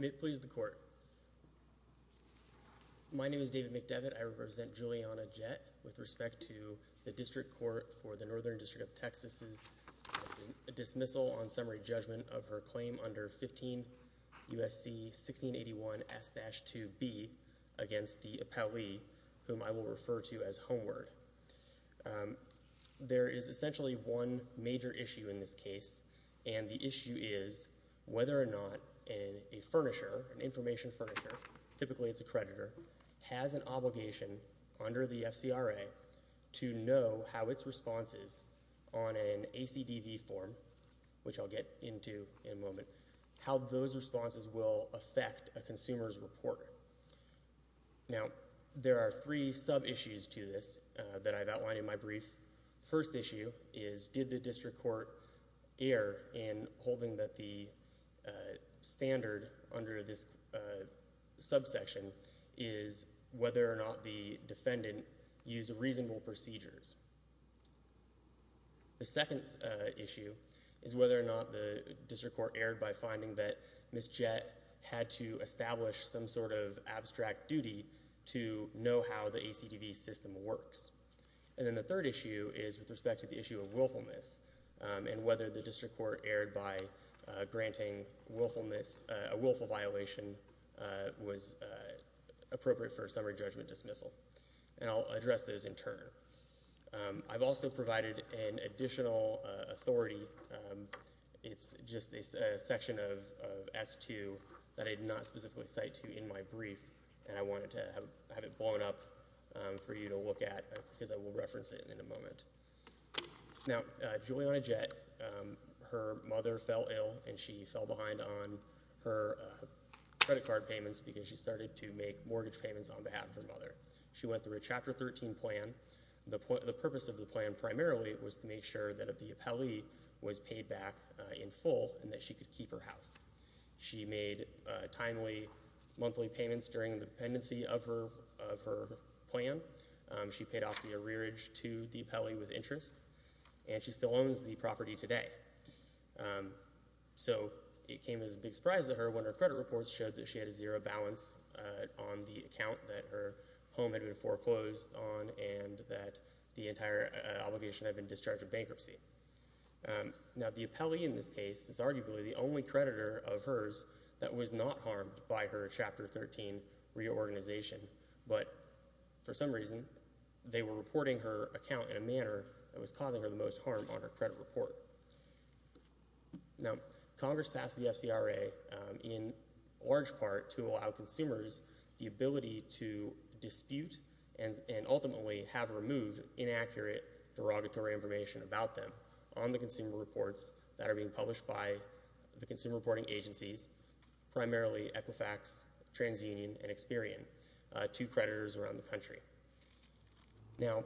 May it please the Court. My name is David McDevitt. I represent Juliana Jett with respect to the District Court for the Northern District of Texas's dismissal on summary judgment of her claim under 15 U.S.C. 1681 S-2B against the appellee, whom I will refer to as Homeward. There is essentially one major issue in this case, and the issue is whether or not a furnisher, an information furnisher, typically it's a creditor, has an obligation under the FCRA to know how its responses on an ACDV form, which I'll get into in a moment, how those responses will affect a consumer's report. Now, there are three sub-issues to this that I've outlined in my brief. First issue is, did the District Court err in holding that the standard under this subsection is whether or not the defendant used reasonable procedures? The second issue is whether or not the District Court erred by finding that Ms. Jett had to of abstract duty to know how the ACDV system works. And then the third issue is with respect to the issue of willfulness and whether the District Court erred by granting willfulness, a willful violation was appropriate for a summary judgment dismissal. And I'll address those in turn. I've also provided an additional authority, it's just a section of S-2 that I did not specifically cite to in my brief, and I wanted to have it blown up for you to look at, because I will reference it in a moment. Now, Juliana Jett, her mother fell ill and she fell behind on her credit card payments because she started to make mortgage payments on behalf of her mother. She went through a Chapter 13 plan. The purpose of the plan primarily was to make sure that if the appellee was paid back in full and that she could keep her house. She made timely monthly payments during the pendency of her plan. She paid off the arrearage to the appellee with interest, and she still owns the property today. So it came as a big surprise to her when her credit reports showed that she had a zero balance on the account that her home had been foreclosed on and that the entire obligation had been discharge of bankruptcy. Now, the appellee in this case is arguably the only creditor of hers that was not harmed by her Chapter 13 reorganization, but for some reason, they were reporting her account in a manner that was causing her the most harm on her credit report. Now, Congress passed the FCRA in large part to allow consumers the ability to dispute and ultimately have removed inaccurate derogatory information about them on the consumer reports that are being published by the consumer reporting agencies, primarily Equifax, TransUnion, and Experian to creditors around the country. Now,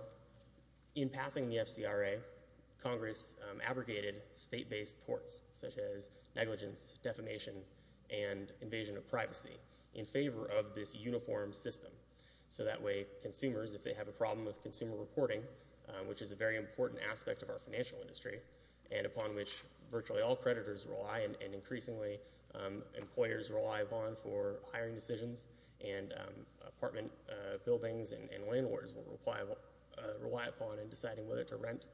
in passing the FCRA, Congress abrogated state-based torts such as negligence, defamation, and invasion of privacy in favor of this uniform system. So that way, consumers, if they have a problem with consumer reporting, which is a very important aspect of our financial industry, and upon which virtually all creditors rely, and increasingly employers rely upon for hiring decisions, and apartment buildings and landlords rely upon in deciding whether to rent,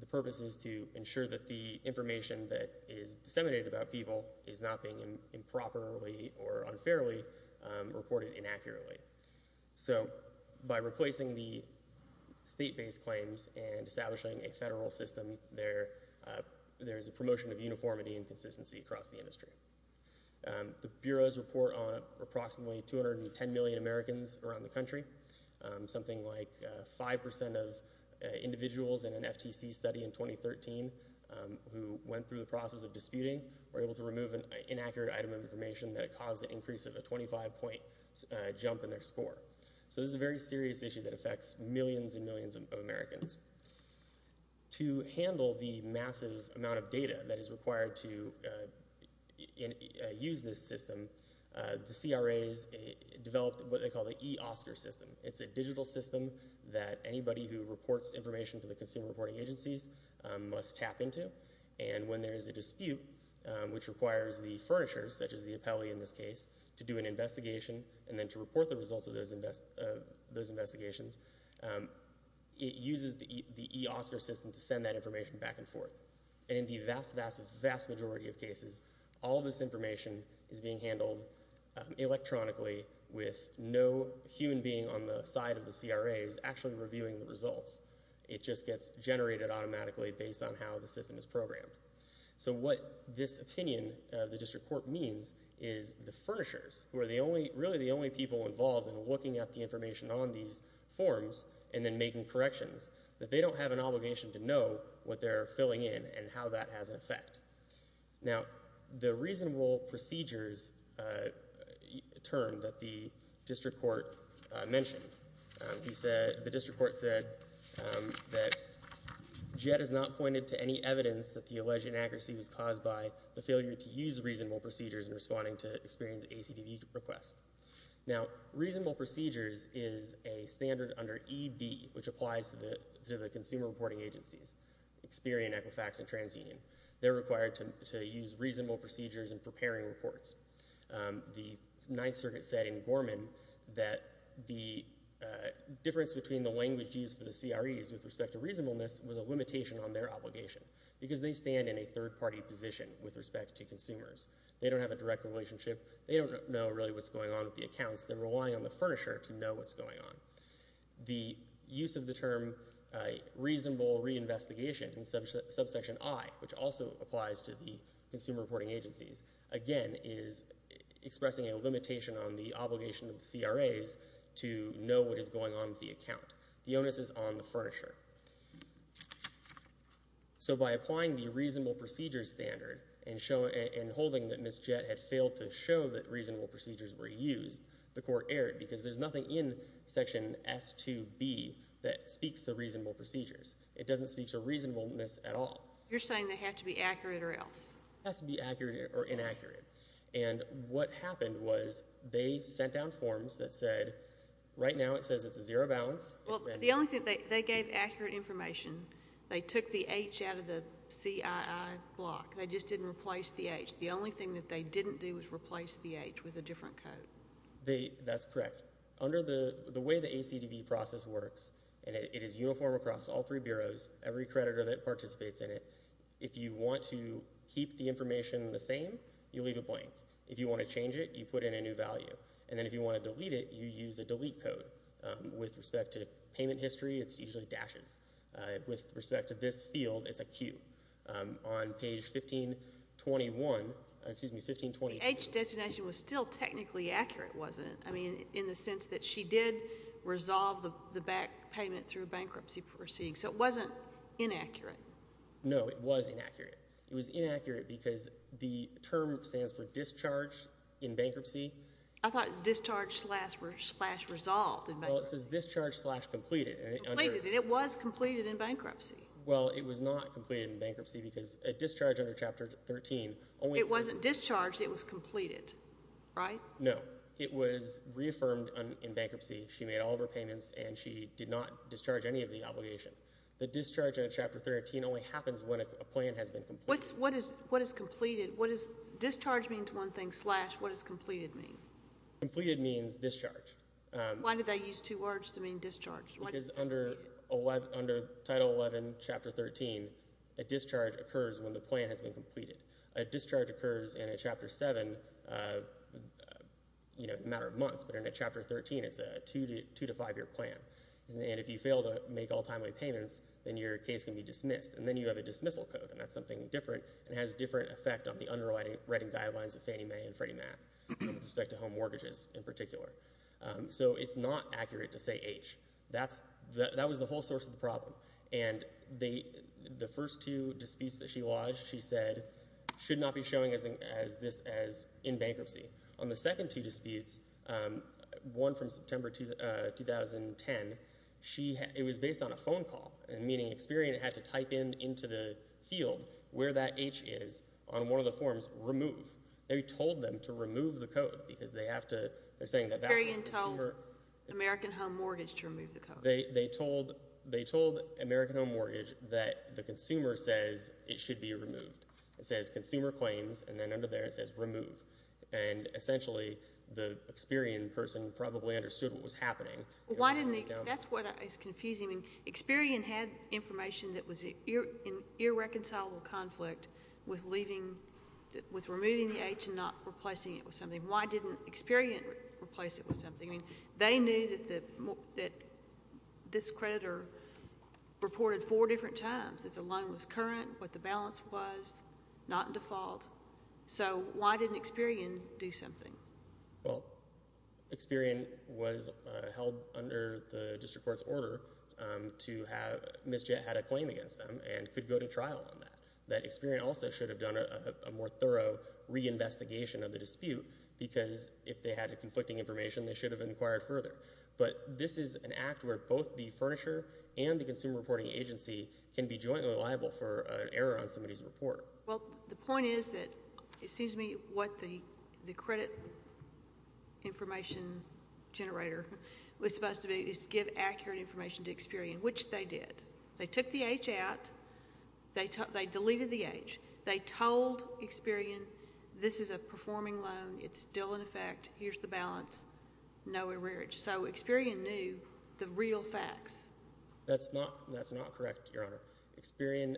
the purpose is to ensure that the information that is disputed is reported accurately. So by replacing the state-based claims and establishing a federal system, there's a promotion of uniformity and consistency across the industry. The Bureau's report on approximately 210 million Americans around the country, something like 5% of individuals in an FTC study in 2013 who went through the process of disputing were able to remove an inaccurate item of information that caused an increase of a 25-point jump in their score. So this is a very serious issue that affects millions and millions of Americans. To handle the massive amount of data that is required to use this system, the CRAs developed what they call the eOSCAR system. It's a digital system that anybody who reports information to the consumer reporting agencies must tap into, and when there is a dispute, which requires the furnishers, such as the appellee in this case, to do an investigation and then to report the results of those investigations, it uses the eOSCAR system to send that information back and forth. And in the vast, vast, vast majority of cases, all this information is being handled electronically with no human being on the side of the CRAs actually reviewing the results. It just gets generated automatically based on how the system is programmed. So what this opinion of the district court means is the furnishers, who are really the only people involved in looking at the information on these forms and then making corrections, that they don't have an obligation to know what they're filling in and how that has an effect. Now, the reasonable procedures term that the district court mentioned, the district court said that JET has not pointed to any evidence that the alleged inaccuracy was caused by the failure to use reasonable procedures in responding to experienced ACDV requests. Now, reasonable procedures is a standard under ED, which applies to the consumer reporting agencies, Experian, Equifax, and TransUnion. They're required to use reasonable procedures in preparing reports. The Ninth Circuit said in Gorman that the difference between the language used for the CREs with respect to reasonableness was a limitation on their obligation because they stand in a third-party position with respect to consumers. They don't have a direct relationship. They don't know really what's going on with the accounts. They're relying on the furnisher to know what's going on. The use of the term reasonable reinvestigation in subsection I, which also applies to the CREs, is expressing a limitation on the obligation of the CREs to know what is going on with the account. The onus is on the furnisher. So by applying the reasonable procedures standard and holding that Ms. JET had failed to show that reasonable procedures were used, the court erred because there's nothing in section S2B that speaks to reasonable procedures. It doesn't speak to reasonableness at all. You're saying they have to be accurate or else. It has to be accurate or inaccurate. And what happened was they sent down forms that said, right now it says it's a zero balance. Well, the only thing, they gave accurate information. They took the H out of the CII block. They just didn't replace the H. The only thing that they didn't do was replace the H with a different code. That's correct. Under the way the ACDB process works, and it is uniform across all three bureaus, every time you keep the information the same, you leave it blank. If you want to change it, you put in a new value. And then if you want to delete it, you use a delete code. With respect to payment history, it's usually dashes. With respect to this field, it's a Q. On page 1521, excuse me, 1521. The H designation was still technically accurate, wasn't it? I mean, in the sense that she did resolve the back payment through bankruptcy proceedings. So it wasn't inaccurate. No, it was inaccurate. It was inaccurate because the term stands for discharge in bankruptcy. I thought discharge slash resolve in bankruptcy. Well, it says discharge slash completed. Completed. And it was completed in bankruptcy. Well, it was not completed in bankruptcy because a discharge under Chapter 13 only— It wasn't discharged. It was completed. Right? No. It was reaffirmed in bankruptcy. She made all of her payments and she did not discharge any of the obligation. The discharge in Chapter 13 only happens when a plan has been completed. What is completed? What does discharge mean to one thing slash what does completed mean? Completed means discharge. Why did they use two words to mean discharge? Because under Title 11, Chapter 13, a discharge occurs when the plan has been completed. A discharge occurs in a Chapter 7 in a matter of months, but in a Chapter 13, it's a two to five-year plan. And if you fail to make all timeway payments, then your case can be dismissed. And then you have a dismissal code, and that's something different and has a different effect on the underwriting guidelines of Fannie Mae and Freddie Mac with respect to home mortgages in particular. So it's not accurate to say H. That was the whole source of the problem. And the first two disputes that she lodged, she said, should not be showing this as in bankruptcy. On the second two disputes, one from September 2010, it was based on a phone call, meaning Experian had to type into the field where that H is on one of the forms, remove. They told them to remove the code because they have to, they're saying that that's what the consumer- Experian told American Home Mortgage to remove the code. They told American Home Mortgage that the consumer says it should be removed. It says consumer claims, and then under there it says remove. And essentially, the Experian person probably understood what was happening. Why didn't they- that's what is confusing. Experian had information that was in irreconcilable conflict with leaving, with removing the H and not replacing it with something. Why didn't Experian replace it with something? They knew that this creditor reported four different times that the loan was current, what the balance was, not in default. So why didn't Experian do something? Well, Experian was held under the district court's order to have- Ms. Jett had a claim against them and could go to trial on that. That Experian also should have done a more thorough reinvestigation of the dispute because if they had conflicting information, they should have inquired further. But this is an act where both the furnisher and the consumer reporting agency can be jointly liable for an error on somebody's report. Well, the point is that- excuse me- what the credit information generator was supposed to do is give accurate information to Experian, which they did. They took the H out. They deleted the H. They told Experian this is a performing loan. It's still in effect. Here's the balance. No error. So Experian knew the real facts. That's not correct, Your Honor. Experian-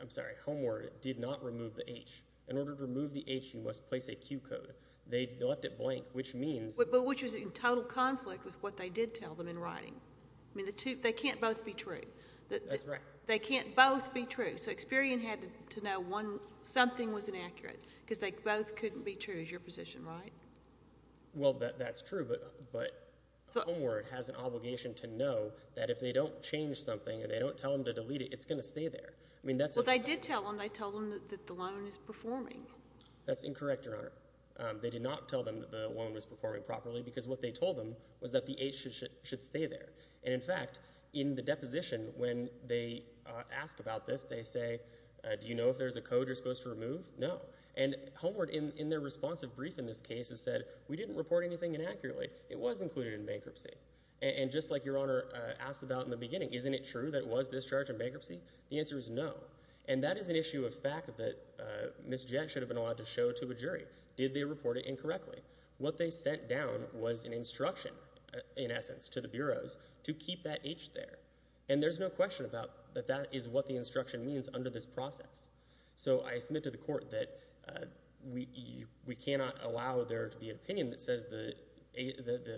I'm sorry- Homeward did not remove the H. In order to remove the H, you must place a Q code. They left it blank, which means- But which was in total conflict with what they did tell them in writing. I mean, the two- they can't both be true. That's right. They can't both be true. So Experian had to know one- something was inaccurate because they both couldn't be true, is your position right? Well, that's true, but Homeward has an obligation to know that if they don't change something and they don't tell them to delete it, it's going to stay there. I mean, that's- Well, they did tell them. They told them that the loan is performing. That's incorrect, Your Honor. They did not tell them that the loan was performing properly because what they told them was that the H should stay there. And in fact, in the deposition, when they ask about this, they say, do you know if there's a code you're supposed to remove? No. And Homeward, in their responsive brief in this case, has said, we didn't report anything inaccurately. It was included in bankruptcy. And just like Your Honor asked about in the beginning, isn't it true that it was discharged in bankruptcy? The answer is no. And that is an issue of fact that Ms. Jett should have been allowed to show to a jury. Did they report it incorrectly? What they sent down was an instruction, in essence, to the bureaus to keep that H there. And there's no question about that that is what the instruction means under this process. So I submit to the court that we cannot allow there to be an opinion that says the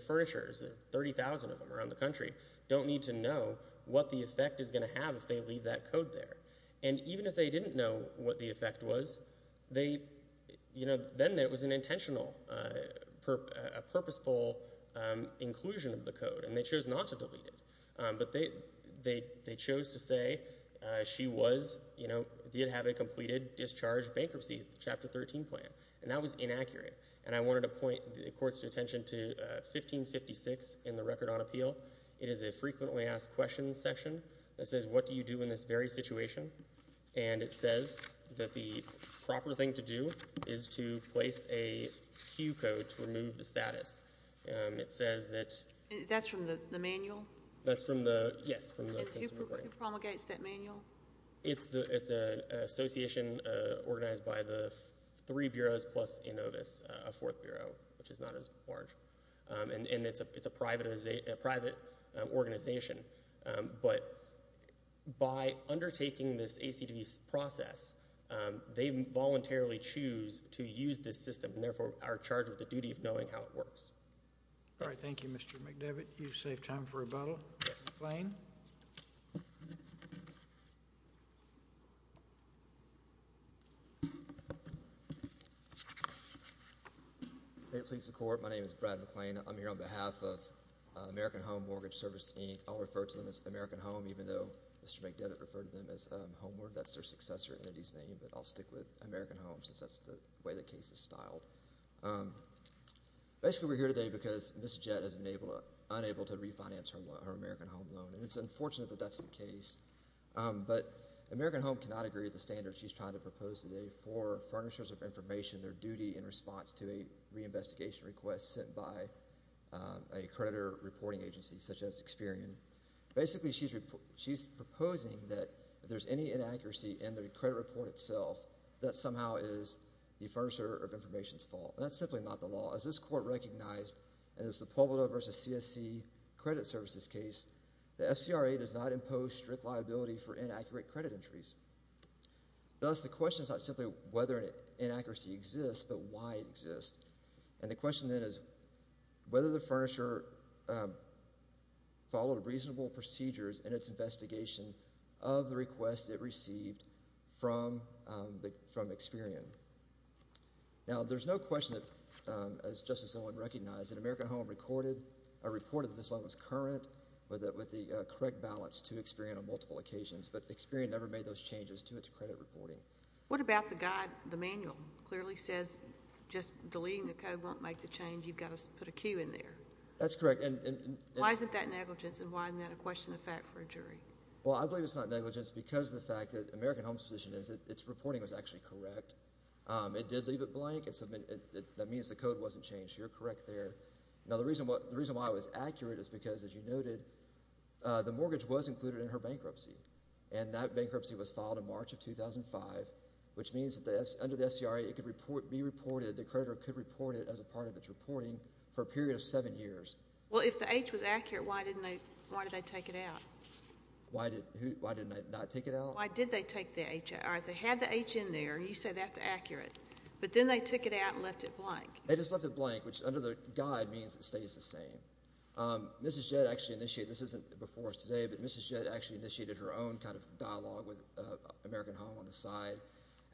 furnishers, 30,000 of them around the country, don't need to know what the effect is going to have if they leave that code there. And even if they didn't know what the effect was, then it was an intentional, a purposeful inclusion of the code. And they chose not to delete it. But they chose to say she was, you know, did have a completed discharge bankruptcy, Chapter 13 plan. And that was inaccurate. And I wanted to point the court's attention to 1556 in the Record on Appeal. It is a frequently asked question section that says, what do you do in this very situation? And it says that the proper thing to do is to place a cue code to remove the status. It says that... And that's from the manual? That's from the... Yes, from the... Who promulgates that manual? It's an association organized by the three bureaus plus Inovis, a fourth bureau, which is not as large. And it's a private organization. But by undertaking this ACD process, they voluntarily choose to use this system and therefore are charged with the duty of knowing how it works. All right. Thank you, Mr. McDevitt. You've saved time for rebuttal. McLean? May it please the Court. My name is Brad McLean. I'm here on behalf of American Home Mortgage Service, Inc. I'll refer to them as American Home, even though Mr. McDevitt referred to them as Homeward. That's their successor entity's name. Basically, we're here today because Ms. Jett has been unable to refinance her American Home loan. And it's unfortunate that that's the case. But American Home cannot agree with the standards she's trying to propose today for furnishers of information, their duty in response to a reinvestigation request sent by a creditor reporting agency, such as Experian. Basically, she's proposing that if there's any inaccuracy in the credit report itself, that somehow is the furnisher of information's fault. And that's simply not the law. As this Court recognized, and as the Pueblo v. CSC Credit Services case, the FCRA does not impose strict liability for inaccurate credit entries. Thus, the question is not simply whether an inaccuracy exists, but why it exists. And the question then is whether the furnisher followed reasonable procedures in its investigation of the request it received from Experian. Now, there's no question, as Justice Zellwein recognized, that American Home reported that this loan was current with the correct balance to Experian on multiple occasions. But Experian never made those changes to its credit reporting. What about the guide, the manual, clearly says, just deleting the code won't make the change. You've got to put a Q in there. That's correct. And— And why isn't that a question of fact for a jury? Well, I believe it's not negligence because of the fact that American Home's position is that its reporting was actually correct. It did leave it blank. That means the code wasn't changed. You're correct there. Now, the reason why it was accurate is because, as you noted, the mortgage was included in her bankruptcy. And that bankruptcy was filed in March of 2005, which means that under the FCRA, it could be reported, the creditor could report it as a part of its reporting for a period of seven years. Well, if the H was accurate, why didn't they—why did they take it out? Why did—who—why didn't they not take it out? Why did they take the H out? All right, they had the H in there, and you say that's accurate. But then they took it out and left it blank. They just left it blank, which under the guide means it stays the same. Mrs. Jett actually initiated—this isn't before us today, but Mrs. Jett actually initiated her own kind of dialogue with American Home on the side,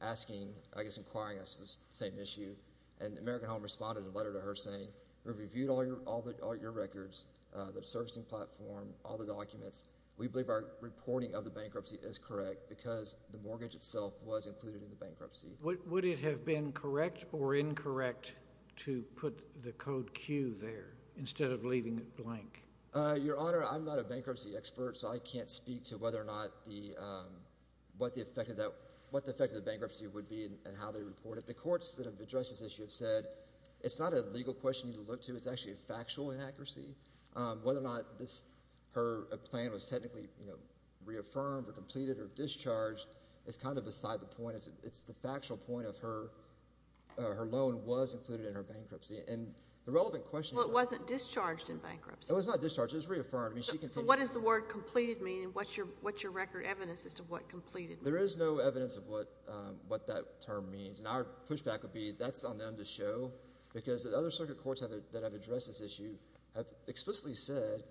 asking—I guess inquiring us on the same issue. And American Home responded in a letter to her saying, we reviewed all your records, the servicing platform, all the documents. We believe our reporting of the bankruptcy is correct because the mortgage itself was included in the bankruptcy. Would it have been correct or incorrect to put the code Q there instead of leaving it blank? Your Honor, I'm not a bankruptcy expert, so I can't speak to whether or not the—what the effect of that—what the effect of the bankruptcy would be and how they report it. But the courts that have addressed this issue have said it's not a legal question you need to look to. It's actually a factual inaccuracy. Whether or not this—her plan was technically, you know, reaffirmed or completed or discharged is kind of beside the point. It's the factual point of her—her loan was included in her bankruptcy. And the relevant question— Well, it wasn't discharged in bankruptcy. It was not discharged. It was reaffirmed. I mean, she can— So what does the word completed mean? And what's your record evidence as to what completed? There is no evidence of what that term means. And our pushback would be that's on them to show because the other circuit courts that have addressed this issue have explicitly said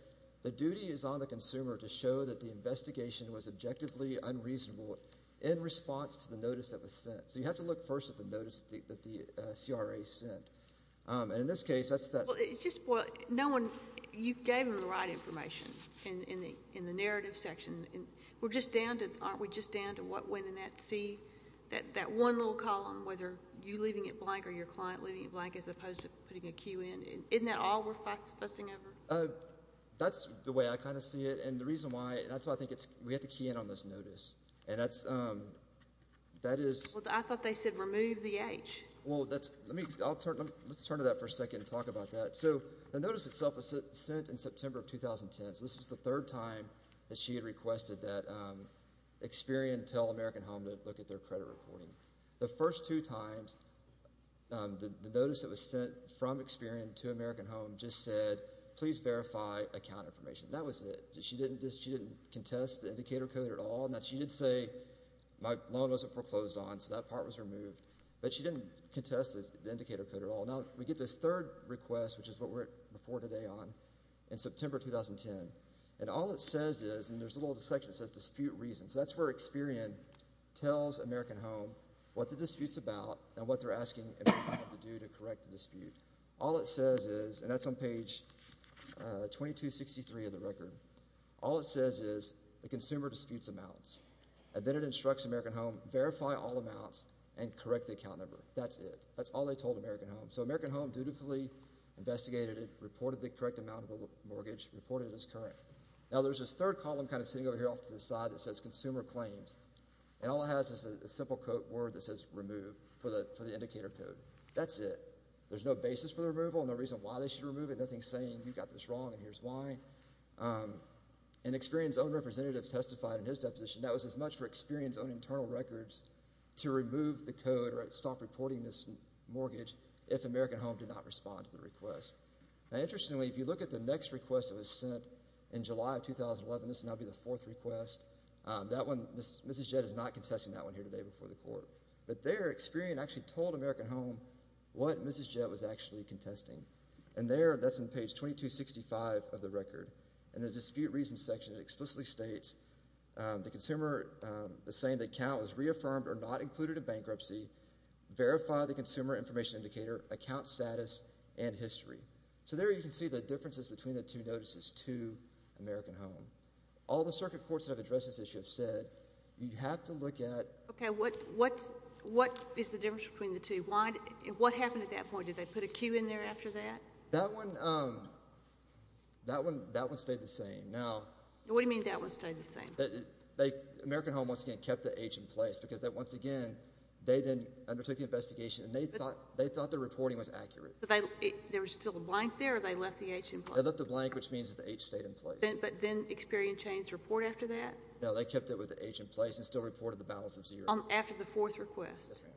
the duty is on the consumer to show that the investigation was objectively unreasonable in response to the notice that was sent. So you have to look first at the notice that the CRA sent. And in this case, that's— Well, it's just what—no one—you gave them the right information in the narrative section. We're just down to—aren't we just down to what went in that C, that one little column? Whether you leaving it blank or your client leaving it blank as opposed to putting a Q in. Isn't that all we're fussing over? That's the way I kind of see it. And the reason why—and that's why I think it's—we have to key in on this notice. And that's—that is— Well, I thought they said remove the H. Well, that's—let me—I'll turn—let's turn to that for a second and talk about that. So the notice itself was sent in September of 2010. So this was the third time that she had requested that Experian tell American Home to look at their credit reporting. The first two times, the notice that was sent from Experian to American Home just said, please verify account information. That was it. She didn't just—she didn't contest the indicator code at all. She did say, my loan wasn't foreclosed on, so that part was removed. But she didn't contest the indicator code at all. Now, we get this third request, which is what we're before today on, in September 2010. And all it says is—and there's a little section that says dispute reasons. So that's where Experian tells American Home what the dispute's about and what they're asking American Home to do to correct the dispute. All it says is—and that's on page 2263 of the record—all it says is the consumer disputes amounts. And then it instructs American Home, verify all amounts and correct the account number. That's it. That's all they told American Home. So American Home dutifully investigated it, reported the correct amount of the mortgage, reported it as current. Now, there's this third column kind of sitting over here off to the side that says consumer claims. And all it has is a simple code word that says remove for the indicator code. That's it. There's no basis for the removal, no reason why they should remove it, nothing saying you got this wrong and here's why. And Experian's own representatives testified in his deposition that was as much for Experian's own internal records to remove the code or stop reporting this mortgage if American Home did not respond to the request. Now, interestingly, if you look at the next request that was sent in July of 2011—this will now be the fourth request—that one, Mrs. Jett is not contesting that one here today before the court. But there, Experian actually told American Home what Mrs. Jett was actually contesting. And there, that's on page 2265 of the record. In the dispute reasons section, it explicitly states the consumer is saying the account was reaffirmed or not included in bankruptcy, verify the consumer information indicator, account status, and history. So there you can see the differences between the two notices to American Home. All the circuit courts that have addressed this issue have said you have to look at— Okay, what is the difference between the two? What happened at that point? Did they put a cue in there after that? That one stayed the same. Now— What do you mean that one stayed the same? American Home, once again, kept the age in place because, once again, they then undertook the investigation, and they thought the reporting was accurate. There was still a blank there, or they left the age in place? They left the blank, which means the age stayed in place. But then Experian changed the report after that? No, they kept it with the age in place and still reported the balance of zero. After the fourth request? Yes, ma'am.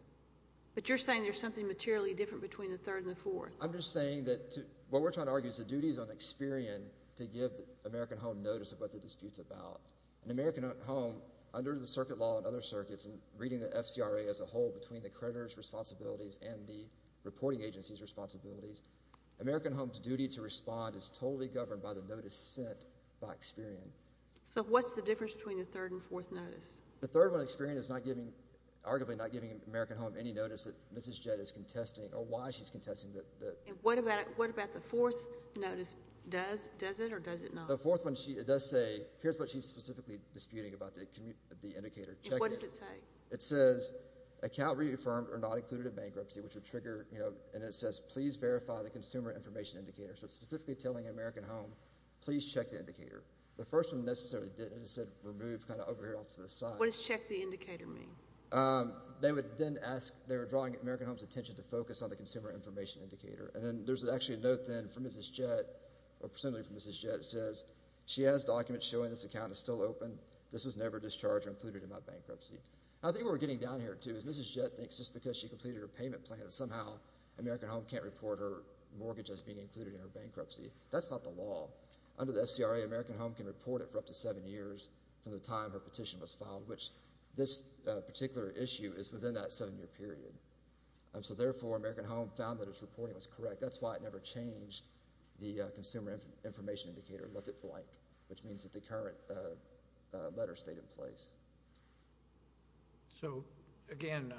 But you're saying there's something materially different between the third and the fourth? I'm just saying that what we're trying to argue is the duty is on Experian to give American Home notice of what the dispute's about. And American Home, under the circuit law and other circuits, and reading the FCRA as a creditor's responsibilities and the reporting agency's responsibilities, American Home's duty to respond is totally governed by the notice sent by Experian. So what's the difference between the third and fourth notice? The third one, Experian is not giving—arguably not giving American Home any notice that Mrs. Jett is contesting or why she's contesting the— And what about the fourth notice? Does it or does it not? The fourth one, it does say—here's what she's specifically disputing about the indicator check-in. And what does it say? It says, account reaffirmed or not included in bankruptcy, which would trigger—you know, and it says, please verify the consumer information indicator. So it's specifically telling American Home, please check the indicator. The first one necessarily didn't. It said, remove, kind of over here off to the side. What does check the indicator mean? They would then ask—they were drawing American Home's attention to focus on the consumer information indicator. And then there's actually a note then from Mrs. Jett, or presumably from Mrs. Jett, that says, she has documents showing this account is still open. This was never discharged or included in my bankruptcy. I think what we're getting down here to is Mrs. Jett thinks just because she completed her payment plan that somehow American Home can't report her mortgage as being included in her bankruptcy. That's not the law. Under the FCRA, American Home can report it for up to seven years from the time her petition was filed, which this particular issue is within that seven-year period. So therefore, American Home found that its reporting was correct. That's why it never changed the consumer information indicator, left it blank, which means that the current letter stayed in place. So, again,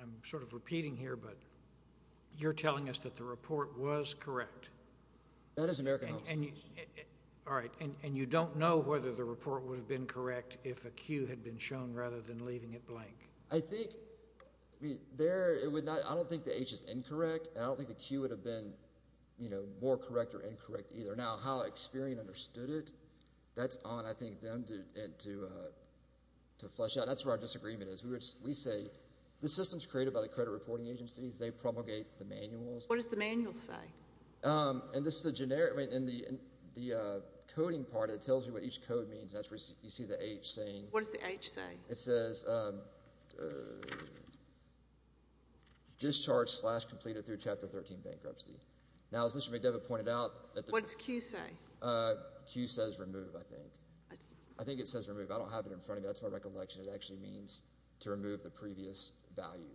I'm sort of repeating here, but you're telling us that the report was correct? That is American Home's case. All right. And you don't know whether the report would have been correct if a Q had been shown rather than leaving it blank? I think—I mean, there—it would not—I don't think the H is incorrect, and I don't think the Q would have been, you know, more correct or incorrect either. Now, how Experian understood it, that's on, I think, them to flesh out. That's where our disagreement is. We say the system's created by the credit reporting agencies. They promulgate the manuals. What does the manual say? And this is a generic—I mean, in the coding part, it tells you what each code means. That's where you see the H saying— What does the H say? It says discharge slash completed through Chapter 13 bankruptcy. Now, as Mr. McDevitt pointed out— What does Q say? Q says remove, I think. I think it says remove. I don't have it in front of me. That's my recollection. It actually means to remove the previous value.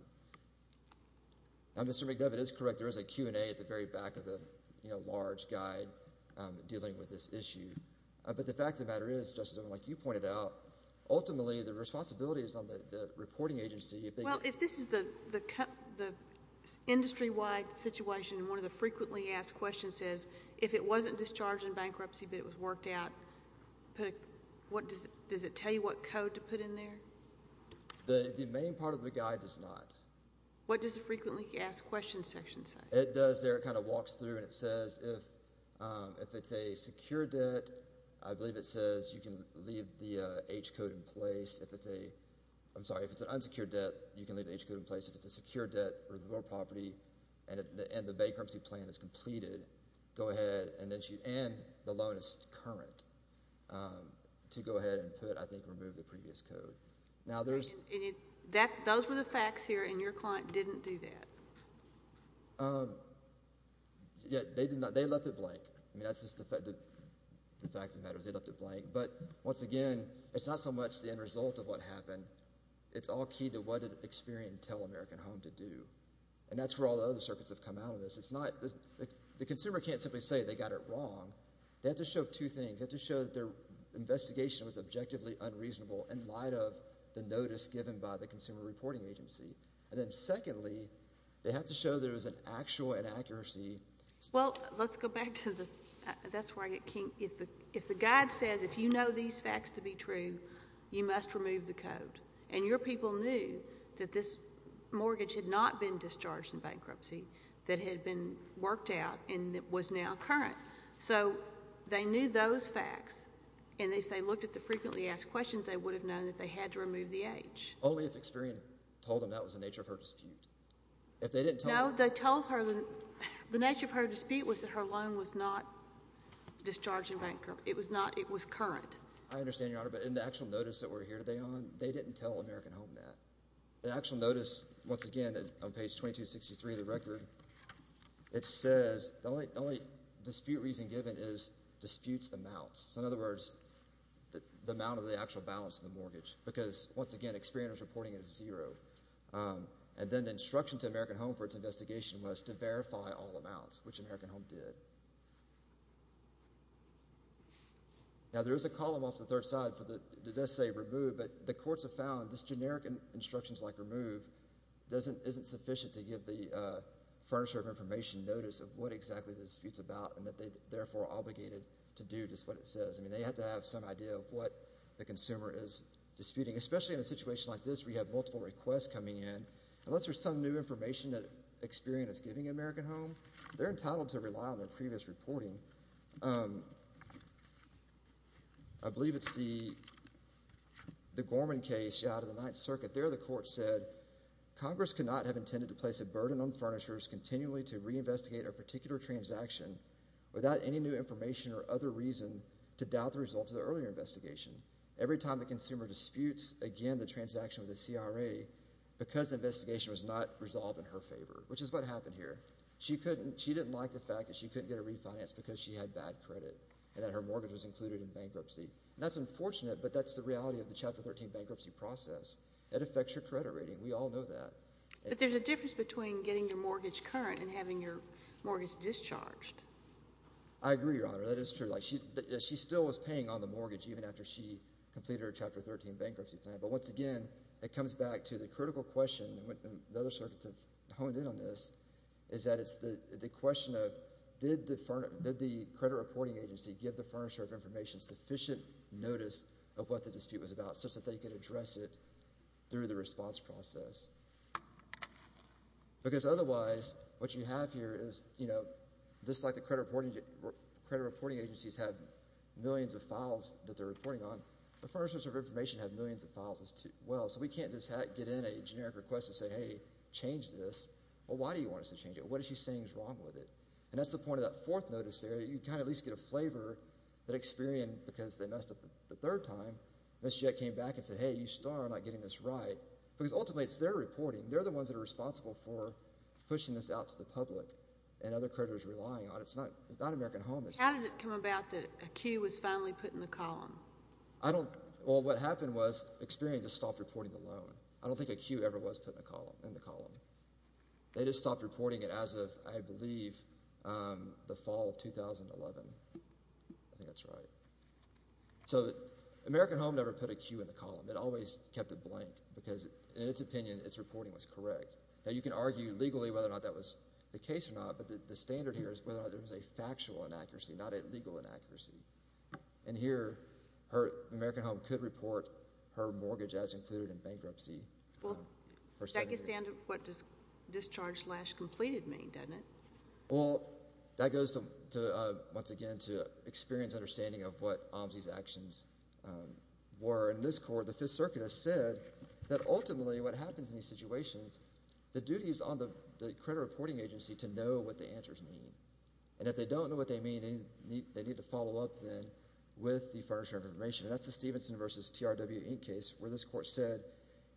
Now, Mr. McDevitt is correct. There is a Q&A at the very back of the, you know, large guide dealing with this issue. But the fact of the matter is, Justice O'Connor, like you pointed out, ultimately, the responsibility is on the reporting agency if they— Well, if this is the industry-wide situation, and one of the frequently asked questions is, if it wasn't discharged in bankruptcy, but it was worked out, does it tell you what code to put in there? The main part of the guide does not. What does the frequently asked questions section say? It does there. It kind of walks through, and it says, if it's a secure debt, I believe it says you can leave the H code in place. If it's a—I'm sorry. If it's an unsecured debt, you can leave the H code in place. If it's a secure debt or real property, and the bankruptcy plan is completed, go ahead, and then she—and the loan is current, to go ahead and put, I think, remove the previous code. Now, there's— Those were the facts here, and your client didn't do that. Yeah. They did not. They left it blank. I mean, that's just the fact—the fact of the matter is they left it blank. But once again, it's not so much the end result of what happened. It's all key to what did Experian tell American Home to do, and that's where all the other circuits have come out of this. It's not—the consumer can't simply say they got it wrong. They have to show two things. They have to show that their investigation was objectively unreasonable in light of the notice given by the Consumer Reporting Agency, and then secondly, they have to show there was an actual inaccuracy. Well, let's go back to the—that's where I get kinked. If the guide says, if you know these facts to be true, you must remove the code, and your people knew that this mortgage had not been discharged in bankruptcy, that it had been worked out, and it was now current. So they knew those facts, and if they looked at the frequently asked questions, they would have known that they had to remove the H. Only if Experian told them that was the nature of her dispute. If they didn't tell— No, they told her—the nature of her dispute was that her loan was not discharged in bankruptcy. It was not—it was current. I understand, Your Honor, but in the actual notice that we're here today on, they didn't tell American Home that. The actual notice, once again, on page 2263 of the record, it says the only dispute reason given is disputes amounts. In other words, the amount of the actual balance of the mortgage, because, once again, Experian was reporting it as zero. And then the instruction to American Home for its investigation was to verify all amounts, which American Home did. Now, there is a column off the third side that does say remove, but the courts have found this generic instruction, like remove, isn't sufficient to give the furnisher of information notice of what exactly the dispute's about, and that they, therefore, are obligated to do just what it says. I mean, they have to have some idea of what the consumer is disputing, especially in a situation like this where you have multiple requests coming in. Unless there's some new information that Experian is giving American Home, they're entitled to rely on their previous reporting. I believe it's the Gorman case out of the Ninth Circuit. There, the court said, Congress could not have intended to place a burden on furnishers continually to reinvestigate a particular transaction without any new information or other reason to doubt the results of the earlier investigation. Every time the consumer disputes, again, the transaction with the CRA, because the investigation was not resolved in her favor, which is what happened here. She didn't like the fact that she couldn't get a refinance because she had bad credit and that her mortgage was included in bankruptcy. And that's unfortunate, but that's the reality of the Chapter 13 bankruptcy process. It affects your credit rating. We all know that. But there's a difference between getting your mortgage current and having your mortgage discharged. I agree, Your Honor. That is true. Like, she still was paying on the mortgage even after she completed her Chapter 13 bankruptcy plan. But once again, it comes back to the critical question, and the other circuits have honed in on this, is that it's the question of, did the credit reporting agency give the furnisher of information sufficient notice of what the dispute was about such that they could address it through the response process? Because otherwise, what you have here is, you know, just like the credit reporting agencies have millions of files that they're reporting on, the furnishers of information have millions of files as well. So we can't just get in a generic request and say, hey, change this. Well, why do you want us to change it? What is she saying is wrong with it? And that's the point of that fourth notice there. You kind of at least get a flavor that Experian, because they messed up the third time, Ms. Jett came back and said, hey, you still are not getting this right. Because ultimately, it's their reporting. They're the ones that are responsible for pushing this out to the public and other creditors relying on it. It's not American Home. How did it come about that a cue was finally put in the column? Well, what happened was Experian just stopped reporting the loan. I don't think a cue ever was put in the column. They just stopped reporting it as of, I believe, the fall of 2011. I think that's right. So American Home never put a cue in the column. It always kept it blank, because in its opinion, its reporting was correct. Now, you can argue legally whether or not that was the case or not, but the standard here is whether or not there was a factual inaccuracy, not a legal inaccuracy. And here, American Home could report her mortgage as included in bankruptcy. Well, that gets down to what discharge slash completed means, doesn't it? Well, that goes, once again, to Experian's understanding of what OMSI's actions were. In this court, the Fifth Circuit has said that ultimately, what happens in these situations, the duty is on the credit reporting agency to know what the answers mean. And if they don't know what they mean, they need to follow up, then, with the furniture information. And that's the Stevenson v. TRW Inc. case, where this court said,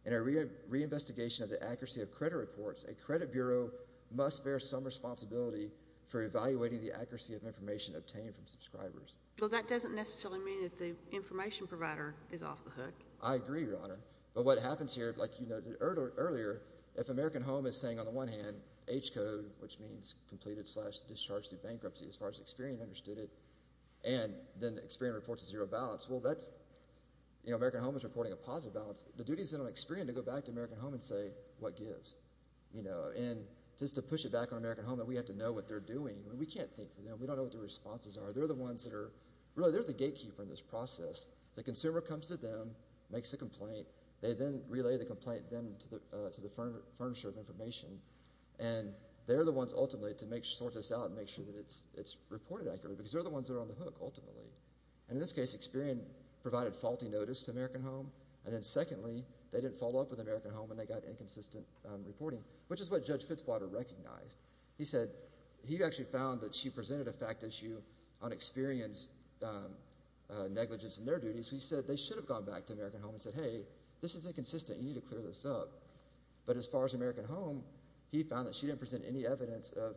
in a reinvestigation of the accuracy of credit reports, a credit bureau must bear some responsibility for evaluating the accuracy of information obtained from subscribers. Well, that doesn't necessarily mean that the information provider is off the hook. I agree, Your Honor. But what happens here, like you noted earlier, if American Home is saying, on the one hand, H code, which means completed slash discharge through bankruptcy, as far as Experian understood it, and then Experian reports a zero balance, well, that's, you know, American Home is reporting a positive balance. The duty is on Experian to go back to American Home and say, what gives? You know, and just to push it back on American Home that we have to know what they're doing. We can't think for them. We don't know what their responses are. They're the ones that are, really, they're the gatekeeper in this process. The consumer comes to them, makes a complaint. They then relay the complaint then to the furnisher of information. And they're the ones, ultimately, to sort this out and make sure that it's reported accurately because they're the ones that are on the hook, ultimately. And in this case, Experian provided faulty notice to American Home. And then, secondly, they didn't follow up with American Home when they got inconsistent reporting, which is what Judge Fitzwater recognized. He said, he actually found that she presented a fact issue on Experian's negligence in their duties. He said they should have gone back to American Home and said, hey, this is inconsistent. You need to clear this up. But as far as American Home, he found that she didn't present any evidence of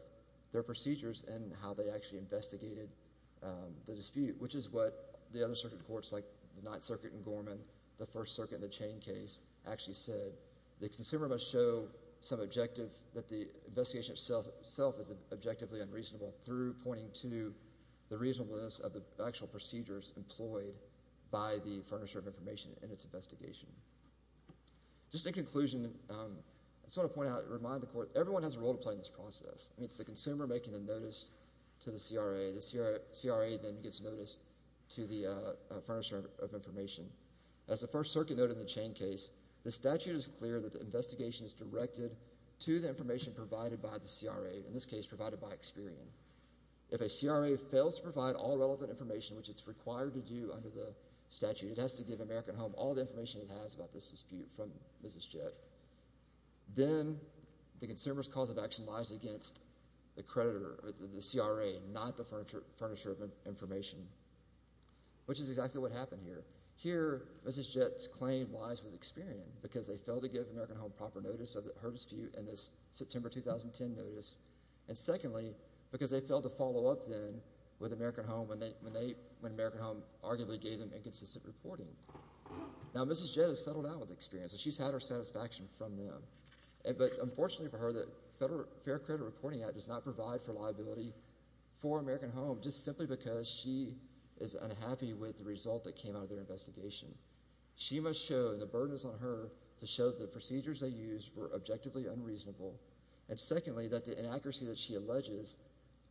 their procedures and how they actually investigated the dispute, which is what the other circuit courts, like the Ninth Circuit in Gorman, the First Circuit in the Chain case, actually said. The consumer must show some objective that the investigation itself is objectively unreasonable through pointing to the reasonableness of the actual procedures employed by the furnisher of information in its investigation. Just in conclusion, I just want to point out and remind the court, everyone has a role to play in this process. It's the consumer making the notice to the CRA. The CRA then gives notice to the furnisher of information. As the First Circuit noted in the Chain case, the statute is clear that the investigation is directed to the information provided by the CRA, in this case, provided by Experian. If a CRA fails to provide all relevant information, which it's required to do under the statute, it has to give American Home all the information it has about this dispute from Mrs. Jett. Then the consumer's cause of action lies against the CRA, not the furnisher of information, which is exactly what happened here. Here, Mrs. Jett's claim lies with Experian because they failed to give American Home proper notice of her dispute in this September 2010 notice, and secondly, because they failed to follow up then with American Home when American Home arguably gave them inconsistent reporting. Now, Mrs. Jett has settled out with Experian, so she's had her satisfaction from them. But unfortunately for her, the Fair Credit Reporting Act does not provide for liability for American Home just simply because she is unhappy with the result that came out of their investigation. She must show, and the burden is on her, to show that the procedures they used were objectively unreasonable, and secondly, that the inaccuracy that she alleges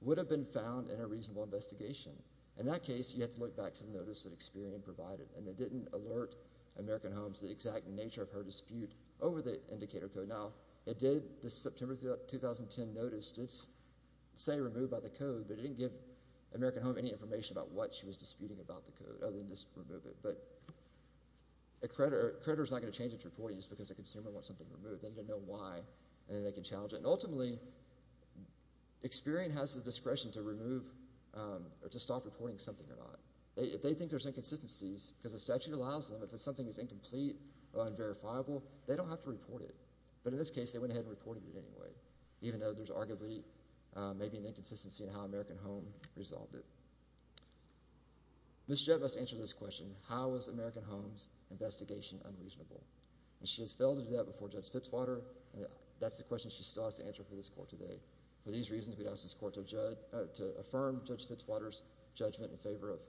would have been found in a reasonable investigation. In that case, you have to look back to the notice that Experian provided, and it didn't alert American Home to the exact nature of her dispute over the indicator code. Now, it did, the September 2010 notice, it's, say, removed by the code, but it didn't give American Home any information about what she was disputing about the code other than just remove it. But a creditor is not going to change its reporting just because a consumer wants something removed. They need to know why, and then they can challenge it. And ultimately, Experian has the discretion to remove or to stop reporting something or not. If they think there's inconsistencies, because the statute allows them, if something is incomplete or unverifiable, they don't have to report it. But in this case, they went ahead and reported it anyway, even though there's arguably maybe an inconsistency in how American Home resolved it. Ms. Judd must answer this question. How is American Home's investigation unreasonable? And she has failed to do that before Judge Fitzwater, and that's the question she still has to answer for this court today. For these reasons, we'd ask this court to judge, to affirm Judge Fitzwater's judgment in favor of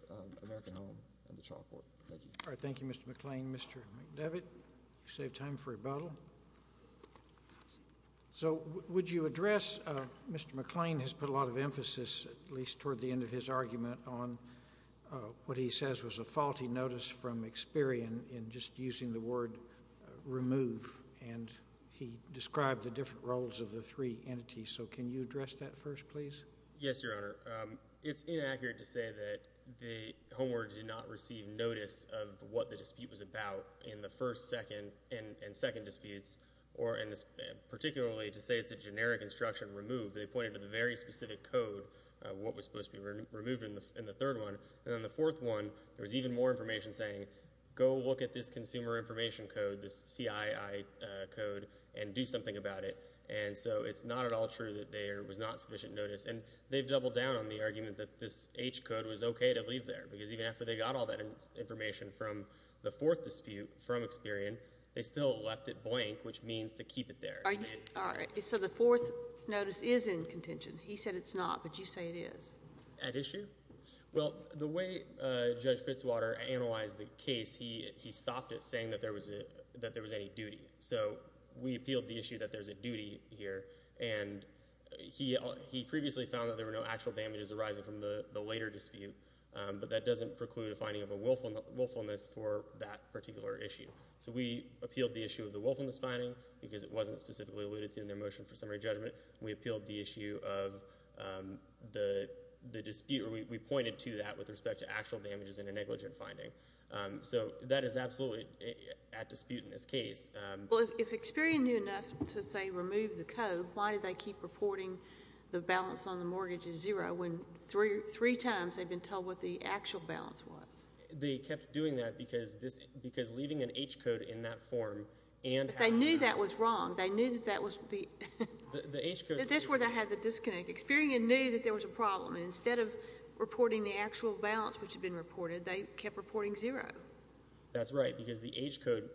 American Home and the trial court. Thank you. All right. Thank you, Mr. McClain. Mr. McDevitt, you saved time for rebuttal. So, would you address, Mr. McClain has put a lot of emphasis, at least toward the end of his argument, on what he says was a faulty notice from Experian in just using the word remove. And he described the different roles of the three entities. So, can you address that first, please? Yes, Your Honor. It's inaccurate to say that the Home Order did not receive notice of what the dispute was about in the first, second, and second disputes, or particularly to say it's a generic instruction, remove. They pointed to the very specific code, what was supposed to be removed in the third one. And in the fourth one, there was even more information saying, go look at this consumer information code, this CII code, and do something about it. And so, it's not at all true that there was not sufficient notice. And they've doubled down on the argument that this H code was okay to leave there, because even after they got all that information from the fourth dispute, from Experian, they still left it blank, which means to keep it there. So, the fourth notice is in contention. He said it's not, but you say it is. At issue? Well, the way Judge Fitzwater analyzed the case, he stopped it saying that there was any duty. So, we appealed the issue that there's a duty here. And he previously found that there were no actual damages arising from the later dispute. But that doesn't preclude a finding of a willfulness for that particular issue. So, we appealed the issue of the willfulness finding, because it wasn't specifically alluded to in their motion for summary judgment. We appealed the issue of the dispute, or we pointed to that with respect to actual damages in a negligent finding. So, that is absolutely at dispute in this case. Well, if Experian knew enough to, say, remove the code, why do they keep reporting the balance on the mortgage is zero, when three times they've been told what the actual balance was? They knew that was wrong. They knew that that was the... That's where they had the disconnect. Experian knew that there was a problem, and instead of reporting the actual balance which had been reported, they kept reporting zero. That's right, because the H code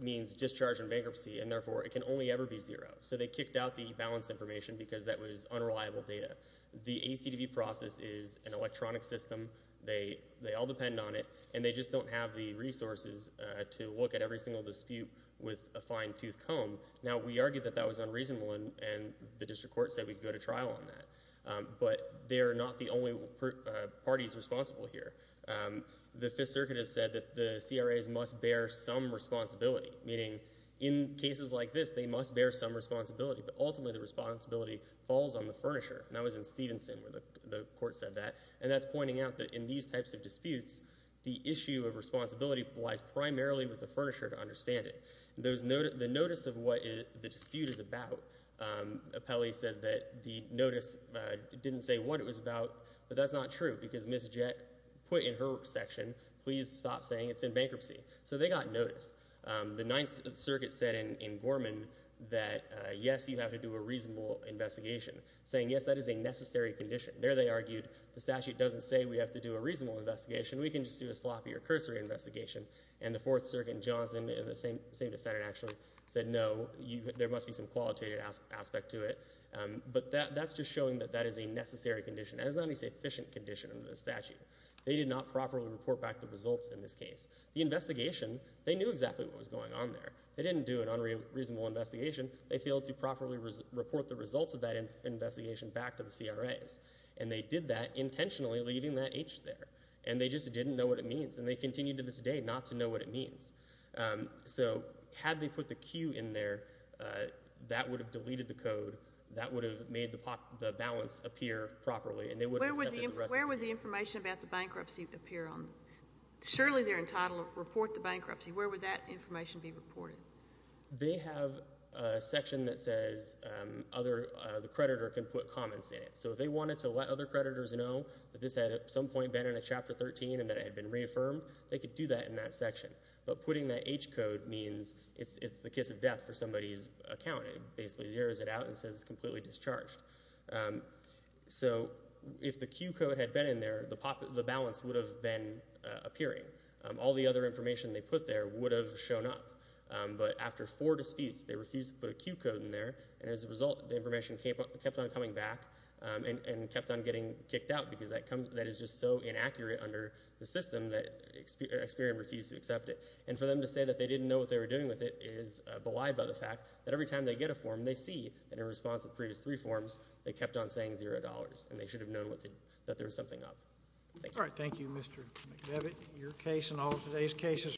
means discharge and bankruptcy, and therefore it can only ever be zero. So, they kicked out the balance information because that was unreliable data. The ACDB process is an electronic system. They all depend on it, and they just don't have the resources to look at every single dispute with a fine-tooth comb. Now, we argued that that was unreasonable, and the district court said we'd go to trial on that, but they're not the only parties responsible here. The Fifth Circuit has said that the CRAs must bear some responsibility, meaning in cases like this, they must bear some responsibility, but ultimately the responsibility falls on the furnisher. That was in Stevenson where the court said that, and that's pointing out that in these types of disputes, the issue of responsibility lies primarily with the furnisher to understand it. The notice of what the dispute is about, Apelli said that the notice didn't say what it was about, but that's not true because Ms. Jett put in her section, please stop saying it's in bankruptcy. So, they got notice. The Ninth Circuit said in Gorman that, yes, you have to do a reasonable investigation, saying, yes, that is a necessary condition. There they argued the statute doesn't say we have to do a reasonable investigation. We can just do a sloppy or cursory investigation, and the Fourth Circuit and Johnson and the same defendant actually said, no, there must be some qualitative aspect to it, but that's just showing that that is a necessary condition. That is not an efficient condition under the statute. They did not properly report back the results in this case. The investigation, they knew exactly what was going on there. They didn't do an unreasonable investigation. They failed to properly report the results of that investigation back to the CRAs, and they did that intentionally leaving that H there, and they just didn't know what it means, and they continue to this day not to know what it means. So, had they put the Q in there, that would have deleted the code. That would have made the balance appear properly, and they would have accepted the rest of the case. Where would the information about the bankruptcy appear? Surely they're entitled to report the bankruptcy. Where would that information be reported? They have a section that says the creditor can put comments in it. So, if they wanted to let other creditors know that this had at some point been in a Chapter 13 and that it had been reaffirmed, they could do that in that section. But putting that H code means it's the kiss of death for somebody's account. It basically zeroes it out and says it's completely discharged. So, if the Q code had been in there, the balance would have been appearing. All the other information they put there would have shown up. But after four disputes, they refused to put a Q code in there, and as a result, the information kept on coming back and kept on getting kicked out because that is just so inaccurate under the system that Experian refused to accept it. And for them to say that they didn't know what they were doing with it is belied by the fact that every time they get a form, they see that in response to the previous three forms, they kept on saying $0, and they should have known that there was something up. All right. Thank you, Mr. McDevitt. Your case and all of today's cases...